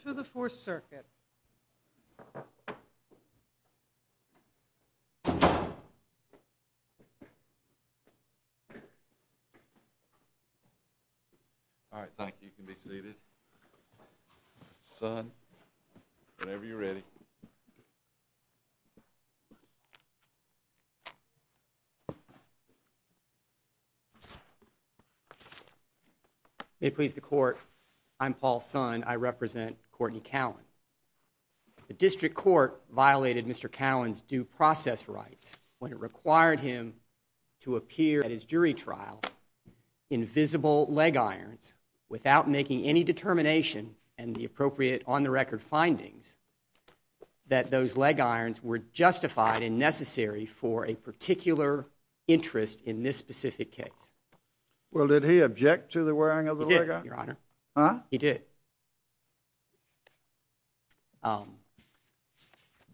to the Fourth Circuit. All right, thank you. Can be seated. May it please the court, I'm Paul Sun, I represent Courtney Cowan. The district court violated Mr. Cowan's due process rights when it required him to appear at his jury trial in visible leg irons without making any determination and the appropriate on-the-record findings that those leg irons were justified and necessary for a particular interest in this specific case. Well, did he object to the wearing of the leg iron? He did, your honor. He did.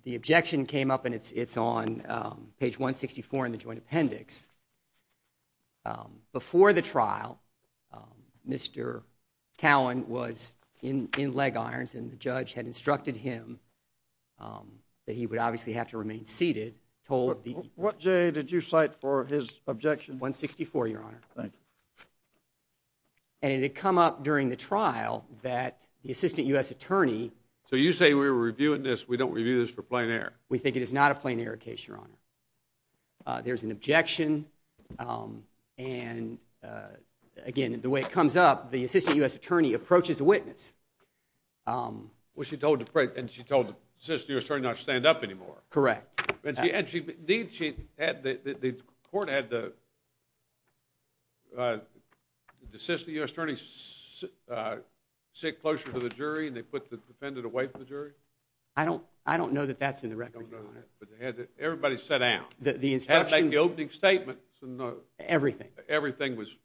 The objection came up and it's on page 164 in the joint appendix. Before the trial, Mr. Cowan was in leg irons and the judge had instructed him that he would obviously have to remain seated. What J did you cite for his objection? 164, your honor. Thank you. And it had come up during the trial that the assistant U.S. attorney. So you say we were reviewing this, we don't review this for plain error. We think it is not a plain error case, your honor. There's an objection and again, the way it comes up, the assistant U.S. attorney approaches a witness. Well, she told the assistant U.S. attorney not to stand up anymore. Correct. And the court had the assistant U.S. attorney sit closer to the jury and they put the defendant away from the jury? I don't know that that's in the record, your honor. Everybody sat down. The instruction. Had to make the opening statement. Everything. Everything was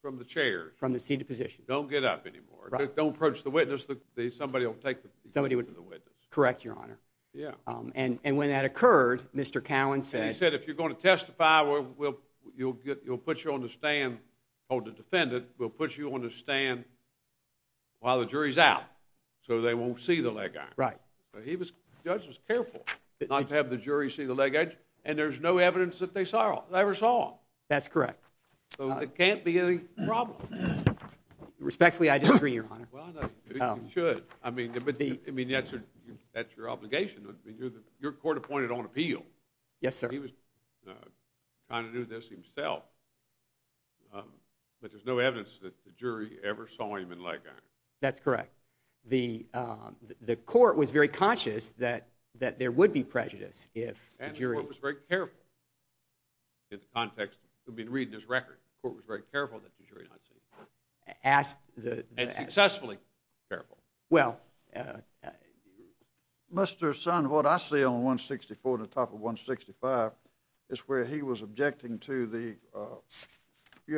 from the chair. From the seated position. Don't get up anymore. Don't approach the witness. Somebody will take the witness. Correct, your honor. And when that occurred, Mr. Cowan said. He said if you're going to testify, you'll put you on the stand, or the defendant will put you on the stand while the jury's out so they won't see the leg iron. Right. The judge was careful not to have the jury see the leg edge, and there's no evidence that they ever saw him. That's correct. So it can't be any problem. Respectfully, I disagree, your honor. Well, I know you should. I mean, but that's your obligation. Your court appointed on appeal. Yes, sir. He was trying to do this himself, but there's no evidence that the jury ever saw him in leg iron. That's correct. The the court was very conscious that that there would be prejudice if the jury. And the court was very careful. In the context, I mean, reading this record, the court was very careful that the jury not see. Asked the. And successfully careful. Well, Mr. Sun, what I see on 164 and the top of 165 is where he was objecting to the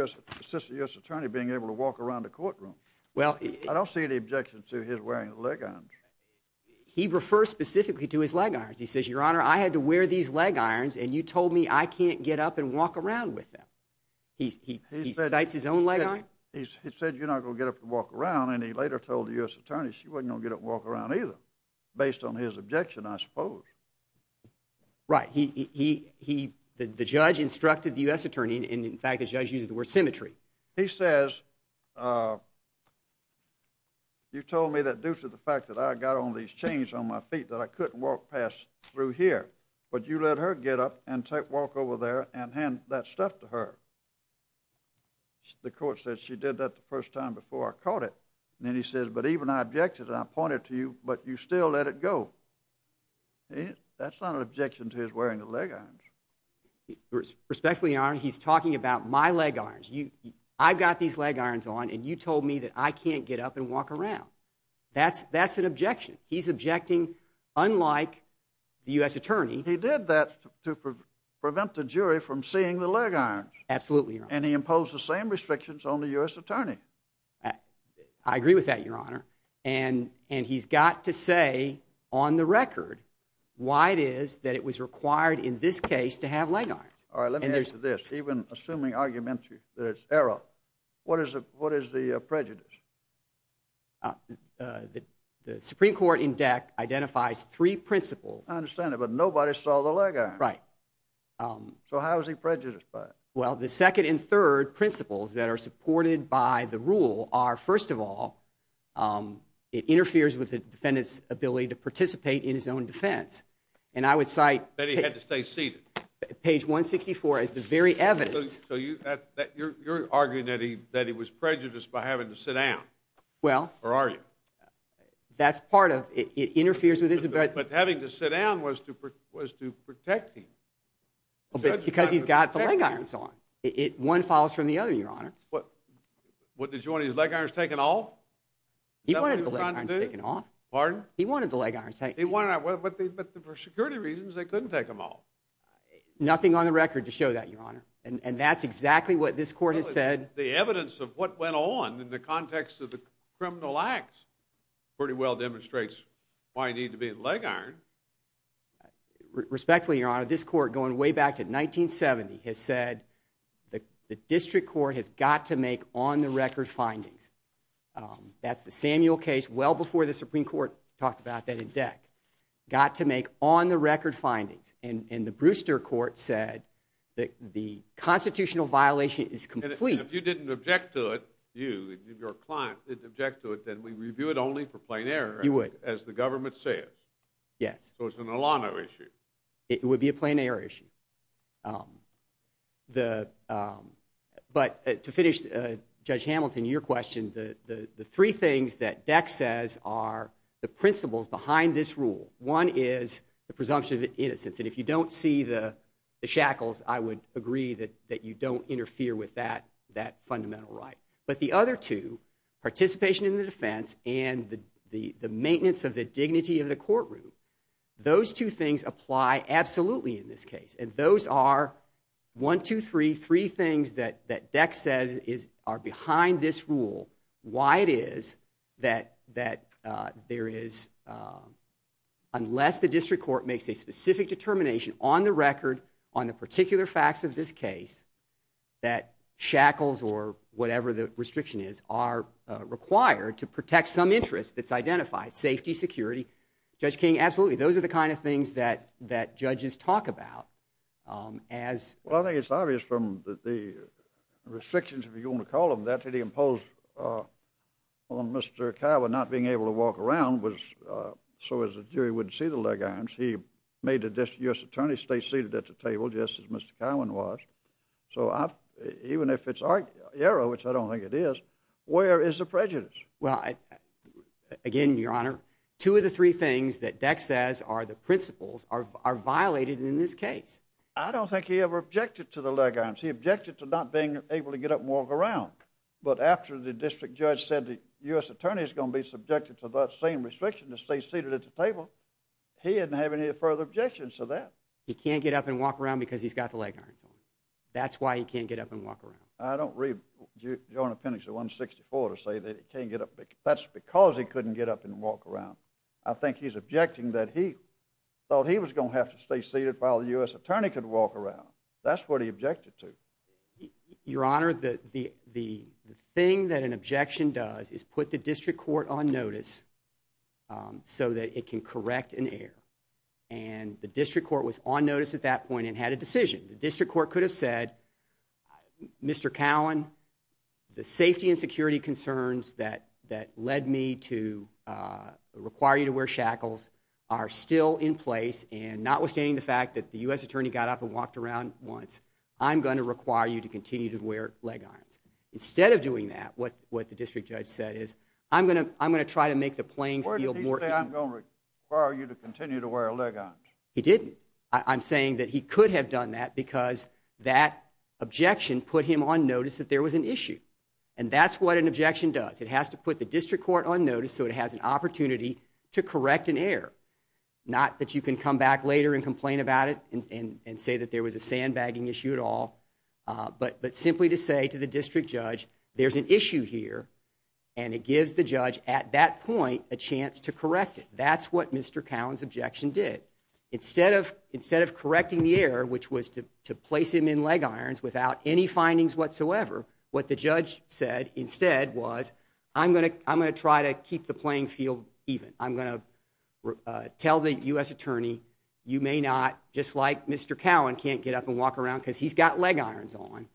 US attorney being able to walk around the courtroom. Well, I don't see any objection to his wearing leg on. He refers specifically to his leg irons. He says, your honor, I had to wear these leg irons and you told me I can't get up and walk around with them. He's he he cites his own leg on. He said you're not going to get up and walk around. And he later told the US attorney she wasn't going to walk around either based on his objection, I suppose. Right. He he he the judge instructed the US attorney. And in fact, his judge uses the word symmetry. He says. You told me that due to the fact that I got on these chains on my feet that I couldn't walk past through here, but you let her get up and walk over there and hand that stuff to her. The court said she did that the first time before I caught it. And then he says, but even I pointed to you, but you still let it go. That's not an objection to his wearing the leg irons. Respectfully, your honor, he's talking about my leg irons. You I've got these leg irons on and you told me that I can't get up and walk around. That's that's an objection. He's objecting unlike the US attorney. He did that to prevent the jury from seeing the leg irons. Absolutely. And he imposed the same restrictions on the US attorney. I agree with that, your honor. And and he's got to say on the record why it is that it was required in this case to have leg irons. All right, let me answer this. Even assuming argument that it's error. What is it? What is the prejudice? The Supreme Court in DEC identifies three principles. I understand it, but nobody saw the leg. Right. So how is he prejudiced by it? Well, the second and third principles that are supported by the rule are first of all, it interferes with the defendant's ability to participate in his own defense. And I would cite that he had to stay seated. Page 164 is the very evidence that you're arguing that he that he was prejudiced by having to sit down. Well, where are you? That's part of it interferes with but having to sit down was to was to protect him. Because he's got the leg irons on it. One follows from the other, your honor. What? What did you want his leg irons taken off? He wanted to take it off. Pardon? He wanted the leg irons. He wanted it. But for security reasons, they couldn't take them off. Nothing on the record to show that, your honor. And that's exactly what this court has said. The evidence of what went on in the context of the criminal acts pretty well demonstrates why I need to be a leg iron. Respectfully, your honor, this court going way back to 1970 has said that the district court has got to make on the record findings. That's the Samuel case well before the Supreme Court talked about that in deck got to make on the record findings and the Brewster court said that the constitutional violation is complete. You didn't for plain error. You would as the government says. Yes. So it's an Alano issue. It would be a plain error issue. The but to finish, Judge Hamilton, your question, the three things that deck says are the principles behind this rule. One is the presumption of innocence. And if you don't see the shackles, I would agree that that you don't interfere with that, that fundamental right. But the other two participation in the defense and the maintenance of the dignity of the courtroom, those two things apply absolutely in this case. And those are one, two, three, three things that that deck says is are behind this rule. Why it is that that there is unless the district court makes a specific determination on the record on the particular facts of this case that shackles or whatever the restriction is, are required to protect some interest that's identified safety, security, Judge King. Absolutely. Those are the kind of things that that judges talk about as well. I think it's obvious from the restrictions, if you want to call them that to the imposed on Mr. Cowan not being able to walk around was so as a jury wouldn't see the leg arms. He made a U.S. attorney stay seated at the table just as Mr. Cowan was. So even if it's error, which I don't think it is, where is the prejudice? Well, again, Your Honor, two of the three things that deck says are the principles are are violated in this case. I don't think he ever objected to the leg arms. He objected to not being able to get up and walk around. But after the district judge said the U.S. attorney is going to be subjected to that same restriction to stay seated at the table, he didn't have any further objections to that. He can't get up and walk around because he's got the leg arms. That's why he can't get up around. I don't read your appendix to 164 to say that it can't get up. That's because he couldn't get up and walk around. I think he's objecting that he thought he was going to have to stay seated while the U.S. attorney could walk around. That's what he objected to. Your Honor, the the the thing that an objection does is put the district court on notice so that it can correct an error. And the district court was on notice at that point and had a decision. The district court could have said, Mr. Cowan, the safety and security concerns that that led me to require you to wear shackles are still in place. And notwithstanding the fact that the U.S. attorney got up and walked around once, I'm going to require you to continue to wear leg arms. Instead of doing that, what what the district judge said is, I'm going to I'm going to try to make the playing field more. I'm going to require you to continue to wear leg arms. He didn't. I'm saying that he could have done that because that objection put him on notice that there was an issue. And that's what an objection does. It has to put the district court on notice so it has an opportunity to correct an error. Not that you can come back later and complain about it and say that there was a sandbagging issue at all. But but simply to say to the district judge, there's an issue here and it gives the judge at that point a chance to correct it. That's what Mr. Cowan's to to place him in leg irons without any findings whatsoever. What the judge said instead was, I'm going to I'm going to try to keep the playing field even. I'm going to tell the U.S. attorney, you may not just like Mr. Cowan can't get up and walk around because he's got leg irons on.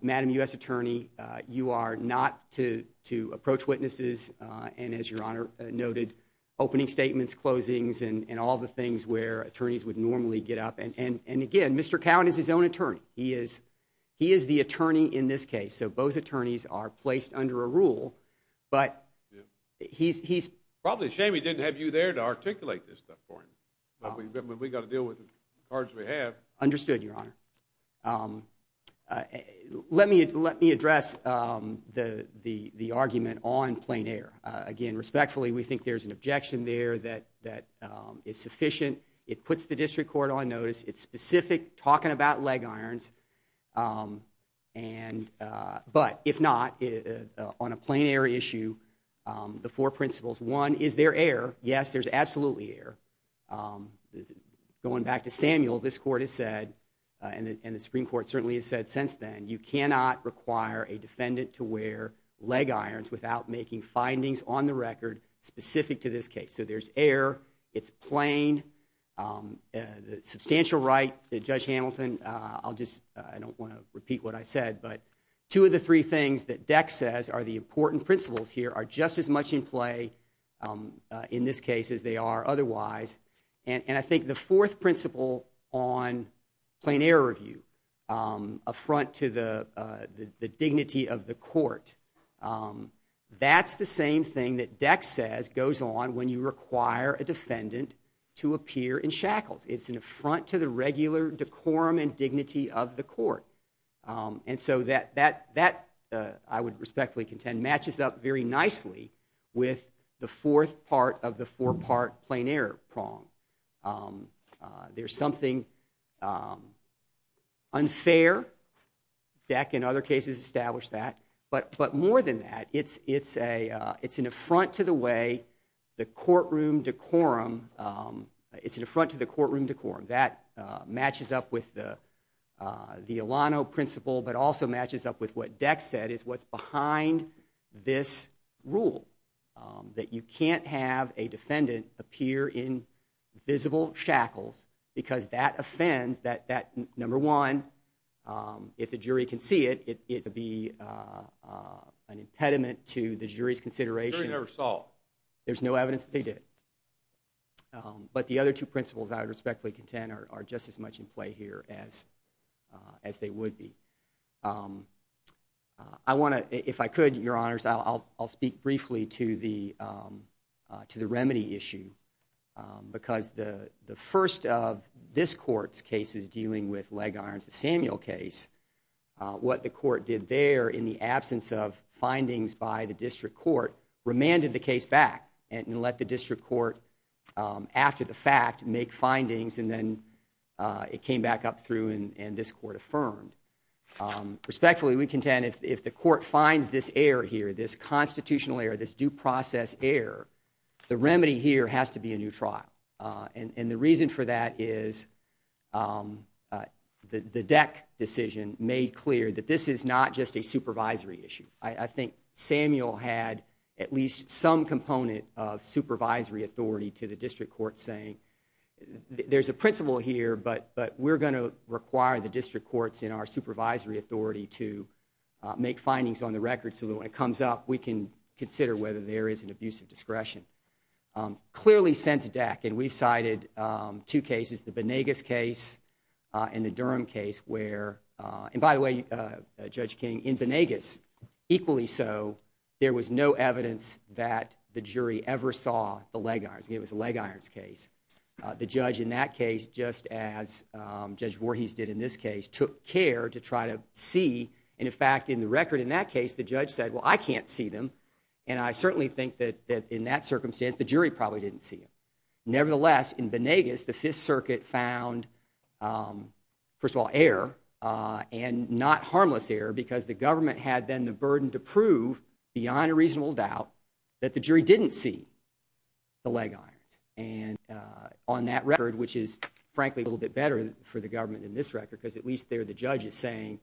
Madam U.S. attorney, you are not to to approach witnesses. And as your honor noted, opening statements, closings and all the things where attorneys would normally get up. And again, Mr. Cowan is his own attorney. He is he is the attorney in this case. So both attorneys are placed under a rule. But he's he's probably a shame he didn't have you there to articulate this stuff for him. But we got to deal with the cards we have understood, your honor. Um, let me let me address the the the argument on plain air. Again, respectfully, we think there's an objection there that that is sufficient. It puts the district court on notice. It's specific talking about leg irons. And but if not, on a plain air issue, the four principles, one is yes, there's absolutely air. Going back to Samuel, this court has said, and the Supreme Court certainly has said since then, you cannot require a defendant to wear leg irons without making findings on the record specific to this case. So there's air. It's plain. The substantial right that Judge Hamilton, I'll just I don't want to repeat what I said, but two of the three things that Dex says are the important principles here are just as much in play in this case as they are otherwise. And I think the fourth principle on plain air review, a front to the dignity of the court. That's the same thing that Dex says goes on when you require a defendant to appear in shackles. It's an affront to the regular decorum and dignity of the court. And so that that that I would respectfully contend matches up very nicely with the fourth part of the four part plain air prong. There's something unfair. Dex in other cases established that. But but more than that, it's it's a it's an affront to the way the courtroom decorum. It's an affront to the courtroom decorum that matches up with the the Alano principle, but also matches up with what Dex said is what's behind this rule that you can't have a defendant appear in visible shackles because that offends that that number one, if the jury can see it, it would be an impediment to the jury's consideration of assault. There's no evidence that they did. But the other two principles I would want to if I could, your honors, I'll I'll speak briefly to the to the remedy issue, because the the first of this court's case is dealing with leg irons. The Samuel case, what the court did there in the absence of findings by the district court, remanded the case back and let the district court after the fact make findings. And then it came back up through and this court affirmed. Respectfully, we contend if the court finds this error here, this constitutional error, this due process error, the remedy here has to be a new trial. And the reason for that is the Dec decision made clear that this is not just a supervisory issue. I think Samuel had at least some component of supervisory authority to the district court saying there's a principle here, but we're going to require the district courts in our supervisory authority to make findings on the record so that when it comes up, we can consider whether there is an abuse of discretion. Clearly since Dec, and we've cited two cases, the Banegas case and the Durham case where, and by the way, Judge King, in Banegas, equally so, there was no evidence that the jury ever saw the leg irons. It Judge Voorhees did in this case, took care to try to see. And in fact, in the record in that case, the judge said, well, I can't see them. And I certainly think that in that circumstance, the jury probably didn't see them. Nevertheless, in Banegas, the Fifth Circuit found, first of all, error and not harmless error because the government had then the burden to prove beyond a reasonable doubt that the jury didn't see the leg irons. And on that record, which is a little bit better for the government in this record, because at least there, the judge is saying,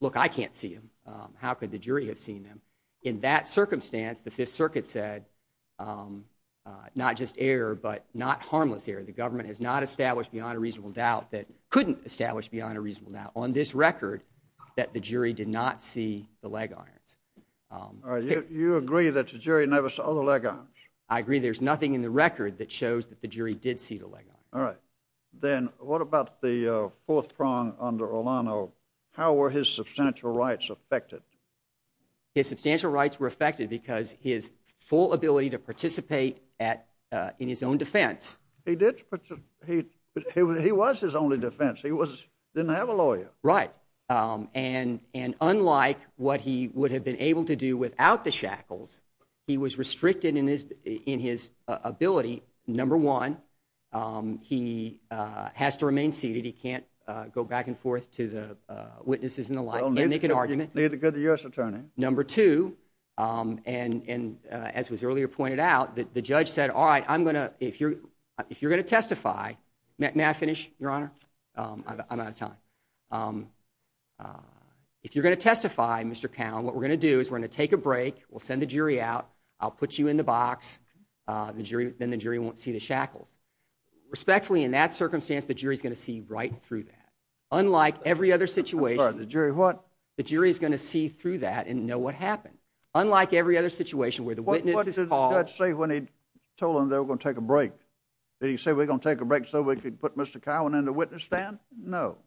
look, I can't see them. How could the jury have seen them? In that circumstance, the Fifth Circuit said not just error, but not harmless error. The government has not established beyond a reasonable doubt that couldn't establish beyond a reasonable doubt on this record that the jury did not see the leg irons. All right. You agree that the jury never saw the leg irons? I agree. There's nothing in the record that shows that the jury did see the leg irons. All right. Then what about the fourth prong under Olano? How were his substantial rights affected? His substantial rights were affected because his full ability to participate in his own defense. He was his only defense. He didn't have a lawyer. Right. And unlike what he would have been able to do without the shackles, he was restricted in his ability. Number one, he has to remain seated. He can't go back and forth to the witnesses in the line and make an argument. Neither could the U.S. attorney. Number two, and as was earlier pointed out, the judge said, all right, I'm going to, if you're going to testify, may I finish, Your Honor? I'm out of time. If you're going to testify, Mr. Cowne, what we're going to do is we're going to take a break. We'll send the jury out. I'll put you in the box. Then the jury won't see the shackles. Respectfully, in that circumstance, the jury is going to see right through that. Unlike every other situation. I'm sorry. The jury what? The jury is going to see through that and know what happened. Unlike every other situation where the witness is called. What did the judge say when he told them they were going to take a break? Did he say we're going to take a break so we could put Mr. Cowne in the witness stand? No.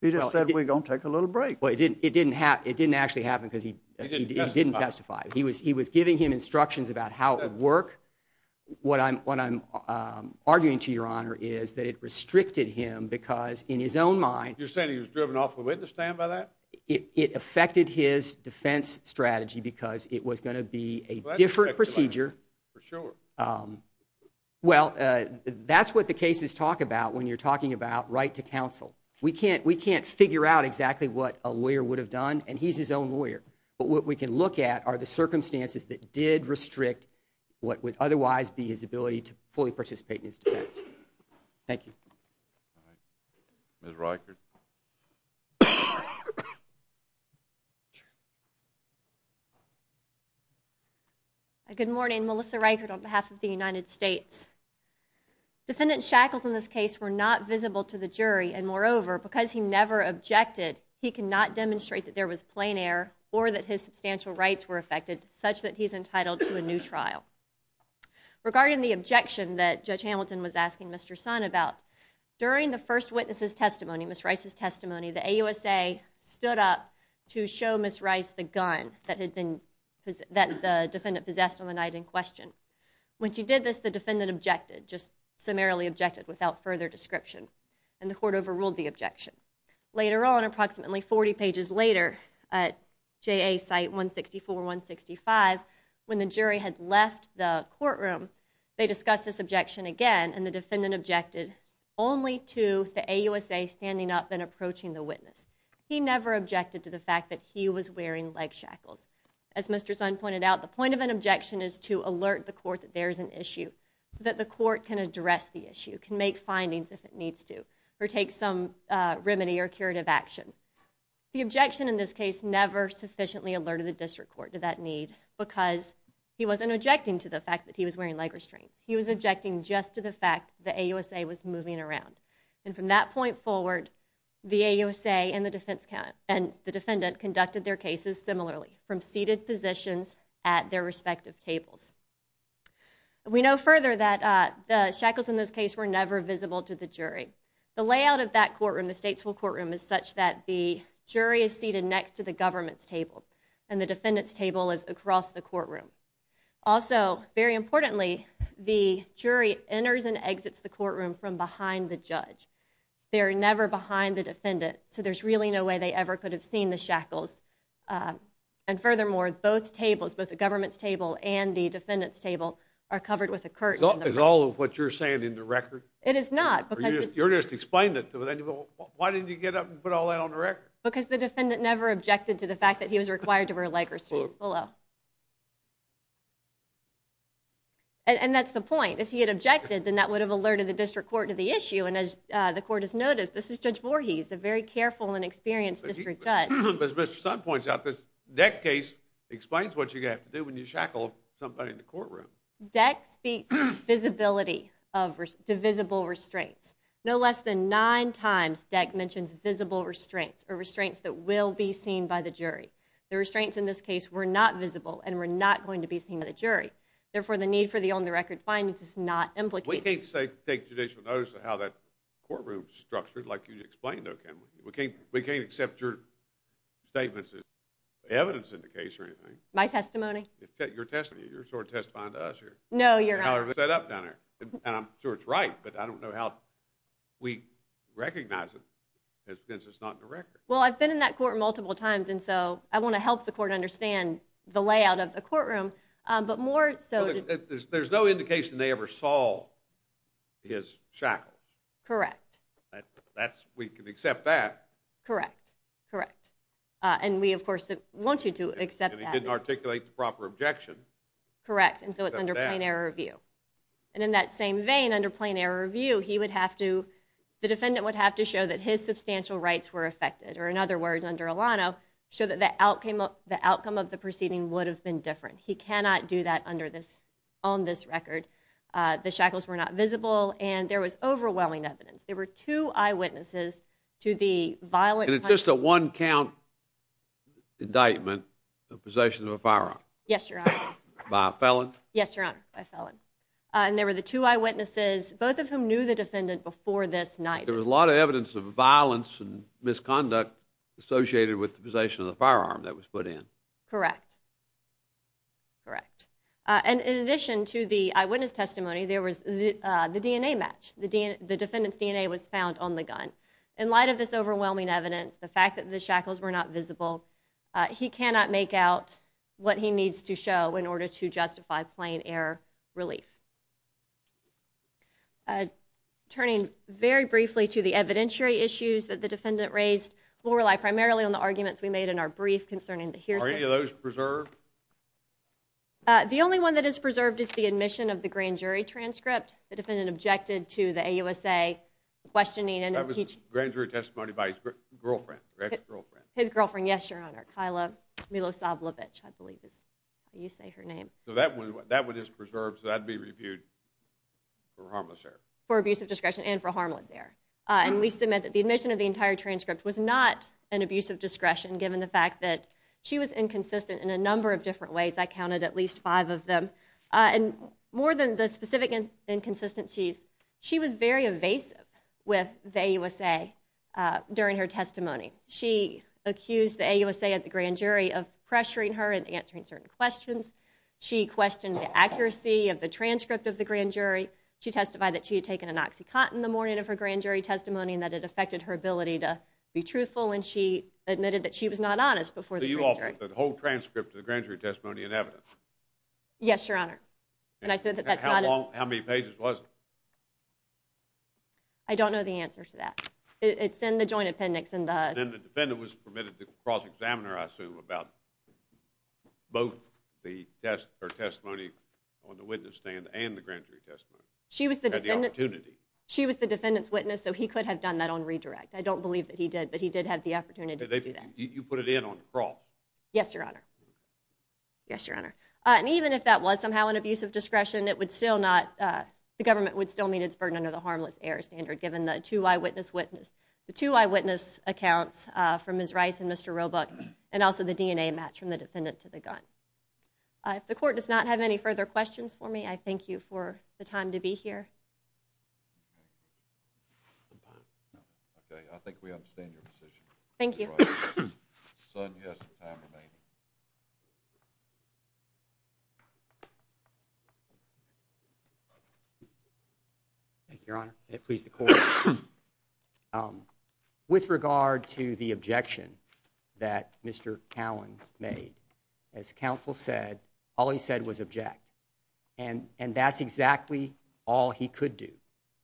He just said we're going to take a little break. It didn't actually happen because he didn't testify. He was giving him instructions about how it would work. What I'm arguing to Your Honor is that it restricted him because in his own mind. You're saying he was driven off the witness stand by that? It affected his defense strategy because it was going to be a different procedure. Well, that's what the cases talk about when you're talking about right to counsel. We can't figure out exactly what a lawyer would have done and he's his own lawyer. But what we can look at are the circumstances that did restrict what would otherwise be his ability to fully participate in his defense. Thank you. Ms. Reichert. Good morning. Melissa Reichert on behalf of the United States. Defendant Shackles in this case were not visible to the jury and moreover because he never objected he cannot demonstrate that there was plain air or that his substantial rights were affected such that he's entitled to a new trial. Regarding the objection that Judge Hamilton was asking Mr. Son about, during the first witness's testimony, Ms. Reichert's testimony, the AUSA stood up to show Ms. Reichert the gun that the defendant possessed on the night in question. When she did this the defendant objected, just summarily objected without further description and the court overruled the objection. Later on approximately 40 pages later at JA site 164-165 when the jury had left the courtroom they discussed this objection again and the defendant objected only to the AUSA standing up and approaching the witness. He never objected to the fact that he was wearing leg shackles. As Mr. Son pointed out the point of an objection is to alert the court that there's an issue, that the court can address the issue, can make findings if it needs to or take some remedy or curative action. The objection in this case never sufficiently alerted the district court to that need because he wasn't objecting to the fact that he was wearing leg restraints. He was objecting just to the fact the AUSA was moving around and from that point forward the AUSA and the defense count and the defendant conducted their cases similarly from seated positions at their respective tables. We know further that the shackles in this case were never visible to the jury. The layout of that courtroom the Statesville courtroom is such that the jury is seated next to the government's table and the defendant's table is across the courtroom. Also very importantly the jury enters and exits the courtroom from behind the judge. They're never behind the defendant so there's really no way they ever could have seen the shackles and furthermore both tables, both the government's table and the defendant's table are covered with a curtain. Is all of what you're saying in the record? It is not. You're just explaining it to them. Why didn't you get up and put all that on the record? Because the defendant never objected to the fact that he was required to wear leg restraints below. And that's the point. If he had objected then that would have alerted the district court to the issue and as the court has noticed this is Judge Voorhees, a very careful and experienced district judge. But as Mr. Sun points out this Deck case explains what you have to do when you shackle somebody in the courtroom. Deck speaks of visibility of divisible restraints. No less than nine times Deck mentions visible restraints or restraints that will be seen by the jury. The restraints in this case were not visible and were not going to be seen by the jury. Therefore the need for the on the record findings is not implicated. We can't say take judicial notice of how that courtroom is structured like you explained though can we? We can't we can't accept your statements as evidence in the case or anything. My testimony? Your testimony. You're sort of testifying to us here. No you're not. How everything is set up down here and I'm sure it's right but I don't know how we recognize it since it's not in the record. Well I've been in that court multiple times and so I want to help the court understand the layout of the courtroom but more so. There's no indication they ever saw his shackles. Correct. That's we can accept that. Correct correct and we of course want you to accept that. He didn't articulate the proper objection. Correct and so it's under plain error review and in that same vein under plain error review he would have to the defendant would have to show that his substantial rights were affected or in other words under Alano show that the outcome of the proceeding would have been different. He cannot do that under this on this record. The shackles were not visible and there was overwhelming evidence. There were two eyewitnesses to the violent. And it's just a one count indictment of possession of a firearm? Yes your honor. By a felon? Yes your honor by felon and there were the two eyewitnesses both of whom knew the defendant before this night. There was a lot of evidence of violence and misconduct associated with the possession of the firearm that was put in. Correct correct and in addition to the eyewitness testimony there was the DNA match. The defendant's DNA was found on the gun. In light of this overwhelming evidence the fact that the shackles were not visible he cannot make out what he needs to show in order to justify plain error relief. Turning very briefly to the evidentiary issues that the defendant raised will rely primarily on the arguments we made in our brief concerning the hearsay. Are any of those preserved? The only one that is preserved is the admission of the grand jury transcript. The defendant objected to the AUSA questioning and grand jury testimony by his girlfriend. His girlfriend yes your honor. Kyla Milosavljevic I believe is how you say her name. So that one that one is preserved so that'd be reviewed for harmless error. For abusive discretion and for an abusive discretion given the fact that she was inconsistent in a number of different ways. I counted at least five of them and more than the specific inconsistencies she was very evasive with the AUSA during her testimony. She accused the AUSA at the grand jury of pressuring her and answering certain questions. She questioned the accuracy of the transcript of the grand jury. She testified that she had taken an oxycontin the morning of her grand jury testimony and that it her ability to be truthful and she admitted that she was not honest before the whole transcript of the grand jury testimony in evidence. Yes your honor and I said that that's not how many pages was it? I don't know the answer to that. It's in the joint appendix and then the defendant was permitted to cross-examine her I assume about both the test her testimony on the witness stand and the grand jury testimony. She was the opportunity she was the defendant's witness so he could have done that on redirect. I don't believe that he did but he did have the opportunity to do that. Did you put it in on the cross? Yes your honor yes your honor and even if that was somehow an abusive discretion it would still not the government would still meet its burden under the harmless error standard given the two eyewitness witness the two eyewitness accounts from Ms. Rice and Mr. Roebuck and also the DNA match from the defendant to the gun. If the court does not have any further questions for me I thank you for the time to be here. Okay I think we understand your position. Thank you. Thank you your honor it pleased the court um with regard to the objection that Mr. Cowan made as counsel said all he said was object and and that's exactly all he could do.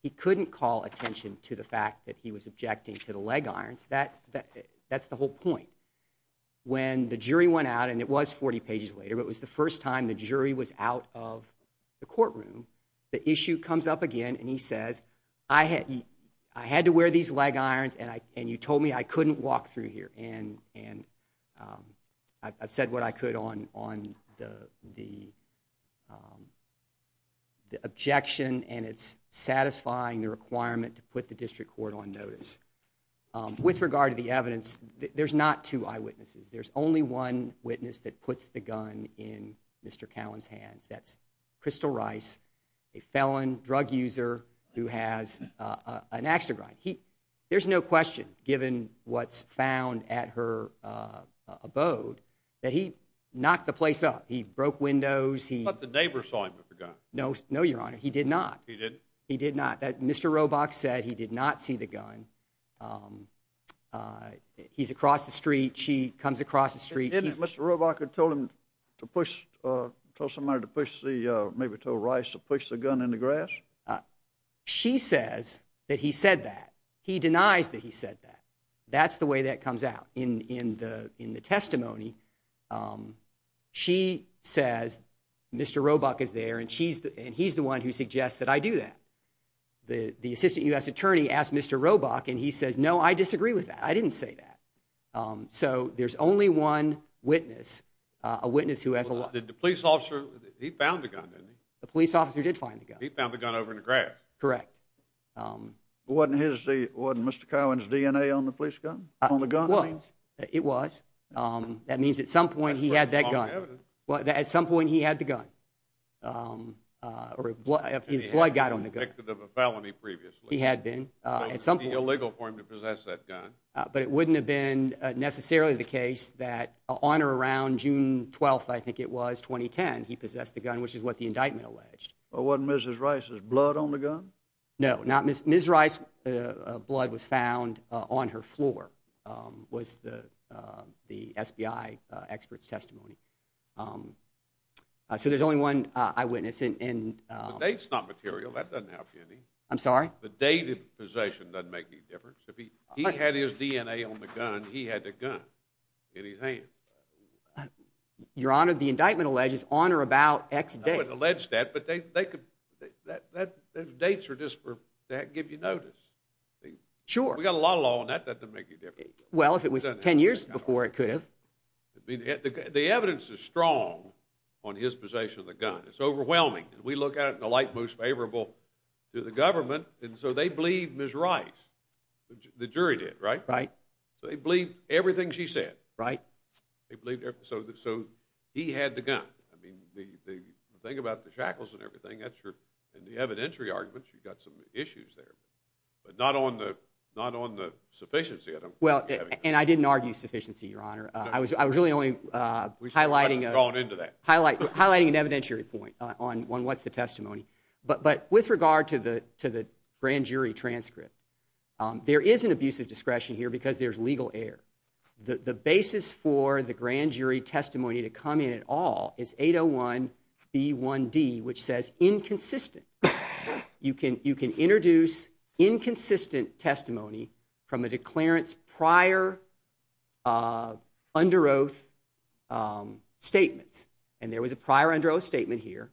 He couldn't call attention to the fact that he was objecting to the leg irons that that that's the whole point. When the jury went out and it was 40 pages later it was the first time the jury was out of the courtroom the issue comes up again and he says I had I had to wear these leg irons and I and you told me I couldn't walk through here and and um I've said what I could on on the the um and it's satisfying the requirement to put the district court on notice. With regard to the evidence there's not two eyewitnesses there's only one witness that puts the gun in Mr. Cowan's hands that's Crystal Rice a felon drug user who has an ax to grind. He there's no question given what's found at her uh abode that he knocked the place up. He broke windows. He thought the neighbor saw him with the gun. No no your honor he did not. He did he did not that Mr. Robach said he did not see the gun um uh he's across the street she comes across the street. Didn't Mr. Robach have told him to push uh told somebody to push the uh maybe told Rice to push the gun in the grass? She says that he said that he denies that he said that that's the way that comes out in in the in testimony um she says Mr. Robach is there and she's and he's the one who suggests that I do that. The the assistant U.S. attorney asked Mr. Robach and he says no I disagree with that I didn't say that um so there's only one witness uh a witness who has a lot. Did the police officer he found the gun didn't he? The police officer did find the gun. He found the gun over in the grass. Correct um. Wasn't his the wasn't Mr. Cowan's DNA on the police gun on the gun? It was that means at some point he had that gun well at some point he had the gun um uh or his blood got on the gun. He had been convicted of a felony previously. He had been uh it's something illegal for him to possess that gun but it wouldn't have been necessarily the case that on or around June 12th I think it was 2010 he possessed the gun which is what the indictment alleged. Well wasn't Mrs. Rice's blood on the gun? No not Mrs. Rice's blood was found on her floor um was the uh the SBI uh expert's testimony um uh so there's only one uh eyewitness and and um. The date's not material that doesn't help you any. I'm sorry? The date of possession doesn't make any difference if he he had his DNA on the gun he had the gun in his hand. Your honor the indictment alleges on or about x date. I wouldn't allege that but they they could that that those dates are just for that give you notice. Sure. We got a lot of law on that well if it was 10 years before it could have. I mean the evidence is strong on his possession of the gun. It's overwhelming and we look at it in the light most favorable to the government and so they believe Mrs. Rice. The jury did right? Right. So they believe everything she said. Right. They believe so so he had the gun. I mean the the thing about the shackles and everything that's your and the evidentiary arguments you've got some issues there but not on the not on the sufficiency. I don't well and I didn't argue sufficiency your honor. I was I was really only uh highlighting going into that highlight highlighting an evidentiary point on on what's the testimony but but with regard to the to the grand jury transcript um there is an abusive discretion here because there's legal error. The the basis for the grand jury testimony to come in at all is 801 b1d which says inconsistent. You can you can introduce inconsistent testimony from a declarant's prior uh under oath um statements and there was a prior under oath statement here.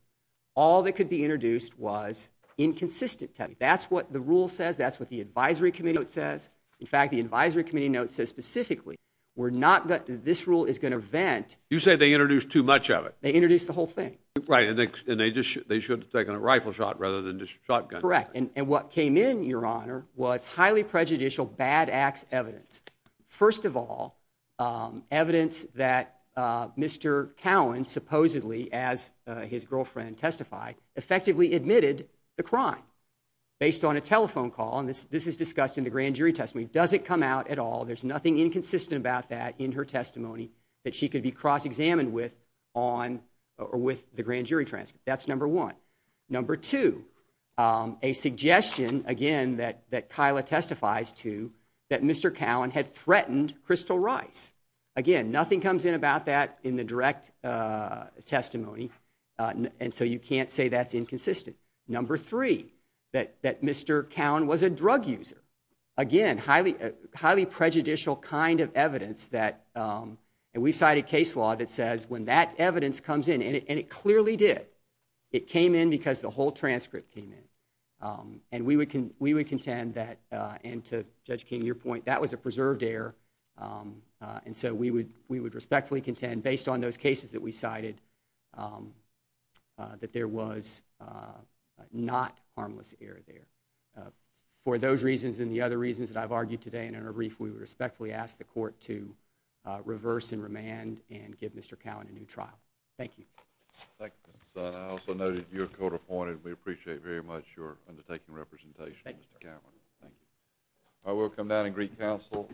All that could be introduced was inconsistent. That's what the rule says. That's what the advisory committee note says. In fact the advisory committee note says specifically we're not that this rule is going to vent. You say they introduced too much of it. They introduced the whole thing. Right and they just they should have taken a rifle shot rather than just shotgun. Correct and and what came in your honor was highly prejudicial bad acts evidence. First of all um evidence that uh Mr. Cowan supposedly as his girlfriend testified effectively admitted the crime based on a telephone call and this this is discussed in the grand jury testimony doesn't come out at all. There's nothing inconsistent about that in her testimony that she could be cross-examined with on or with the grand jury transcript. That's number one. Number two um a suggestion again that that Kyla testifies to that Mr. Cowan had threatened crystal rice. Again nothing comes in about that in the direct uh testimony uh and so you can't say that's inconsistent. Number three that that Mr. Cowan was a drug user. Again highly highly prejudicial kind of evidence that um and we've cited case law that says when that evidence comes in and it clearly did it came in because the whole transcript came in um and we would we would contend that uh and to Judge King your point that was a preserved error um uh and so we would we would respectfully contend based on those cases that we cited um that there was uh not harmless error there. For those reasons and the other reasons that I've argued today and in a brief we respectfully ask the court to reverse and remand and give Mr. Cowan a new trial. Thank you. Thank you. I also know that you're court appointed. We appreciate very much your undertaking representation Mr. Cowan. Thank you. I will come down and greet counsel.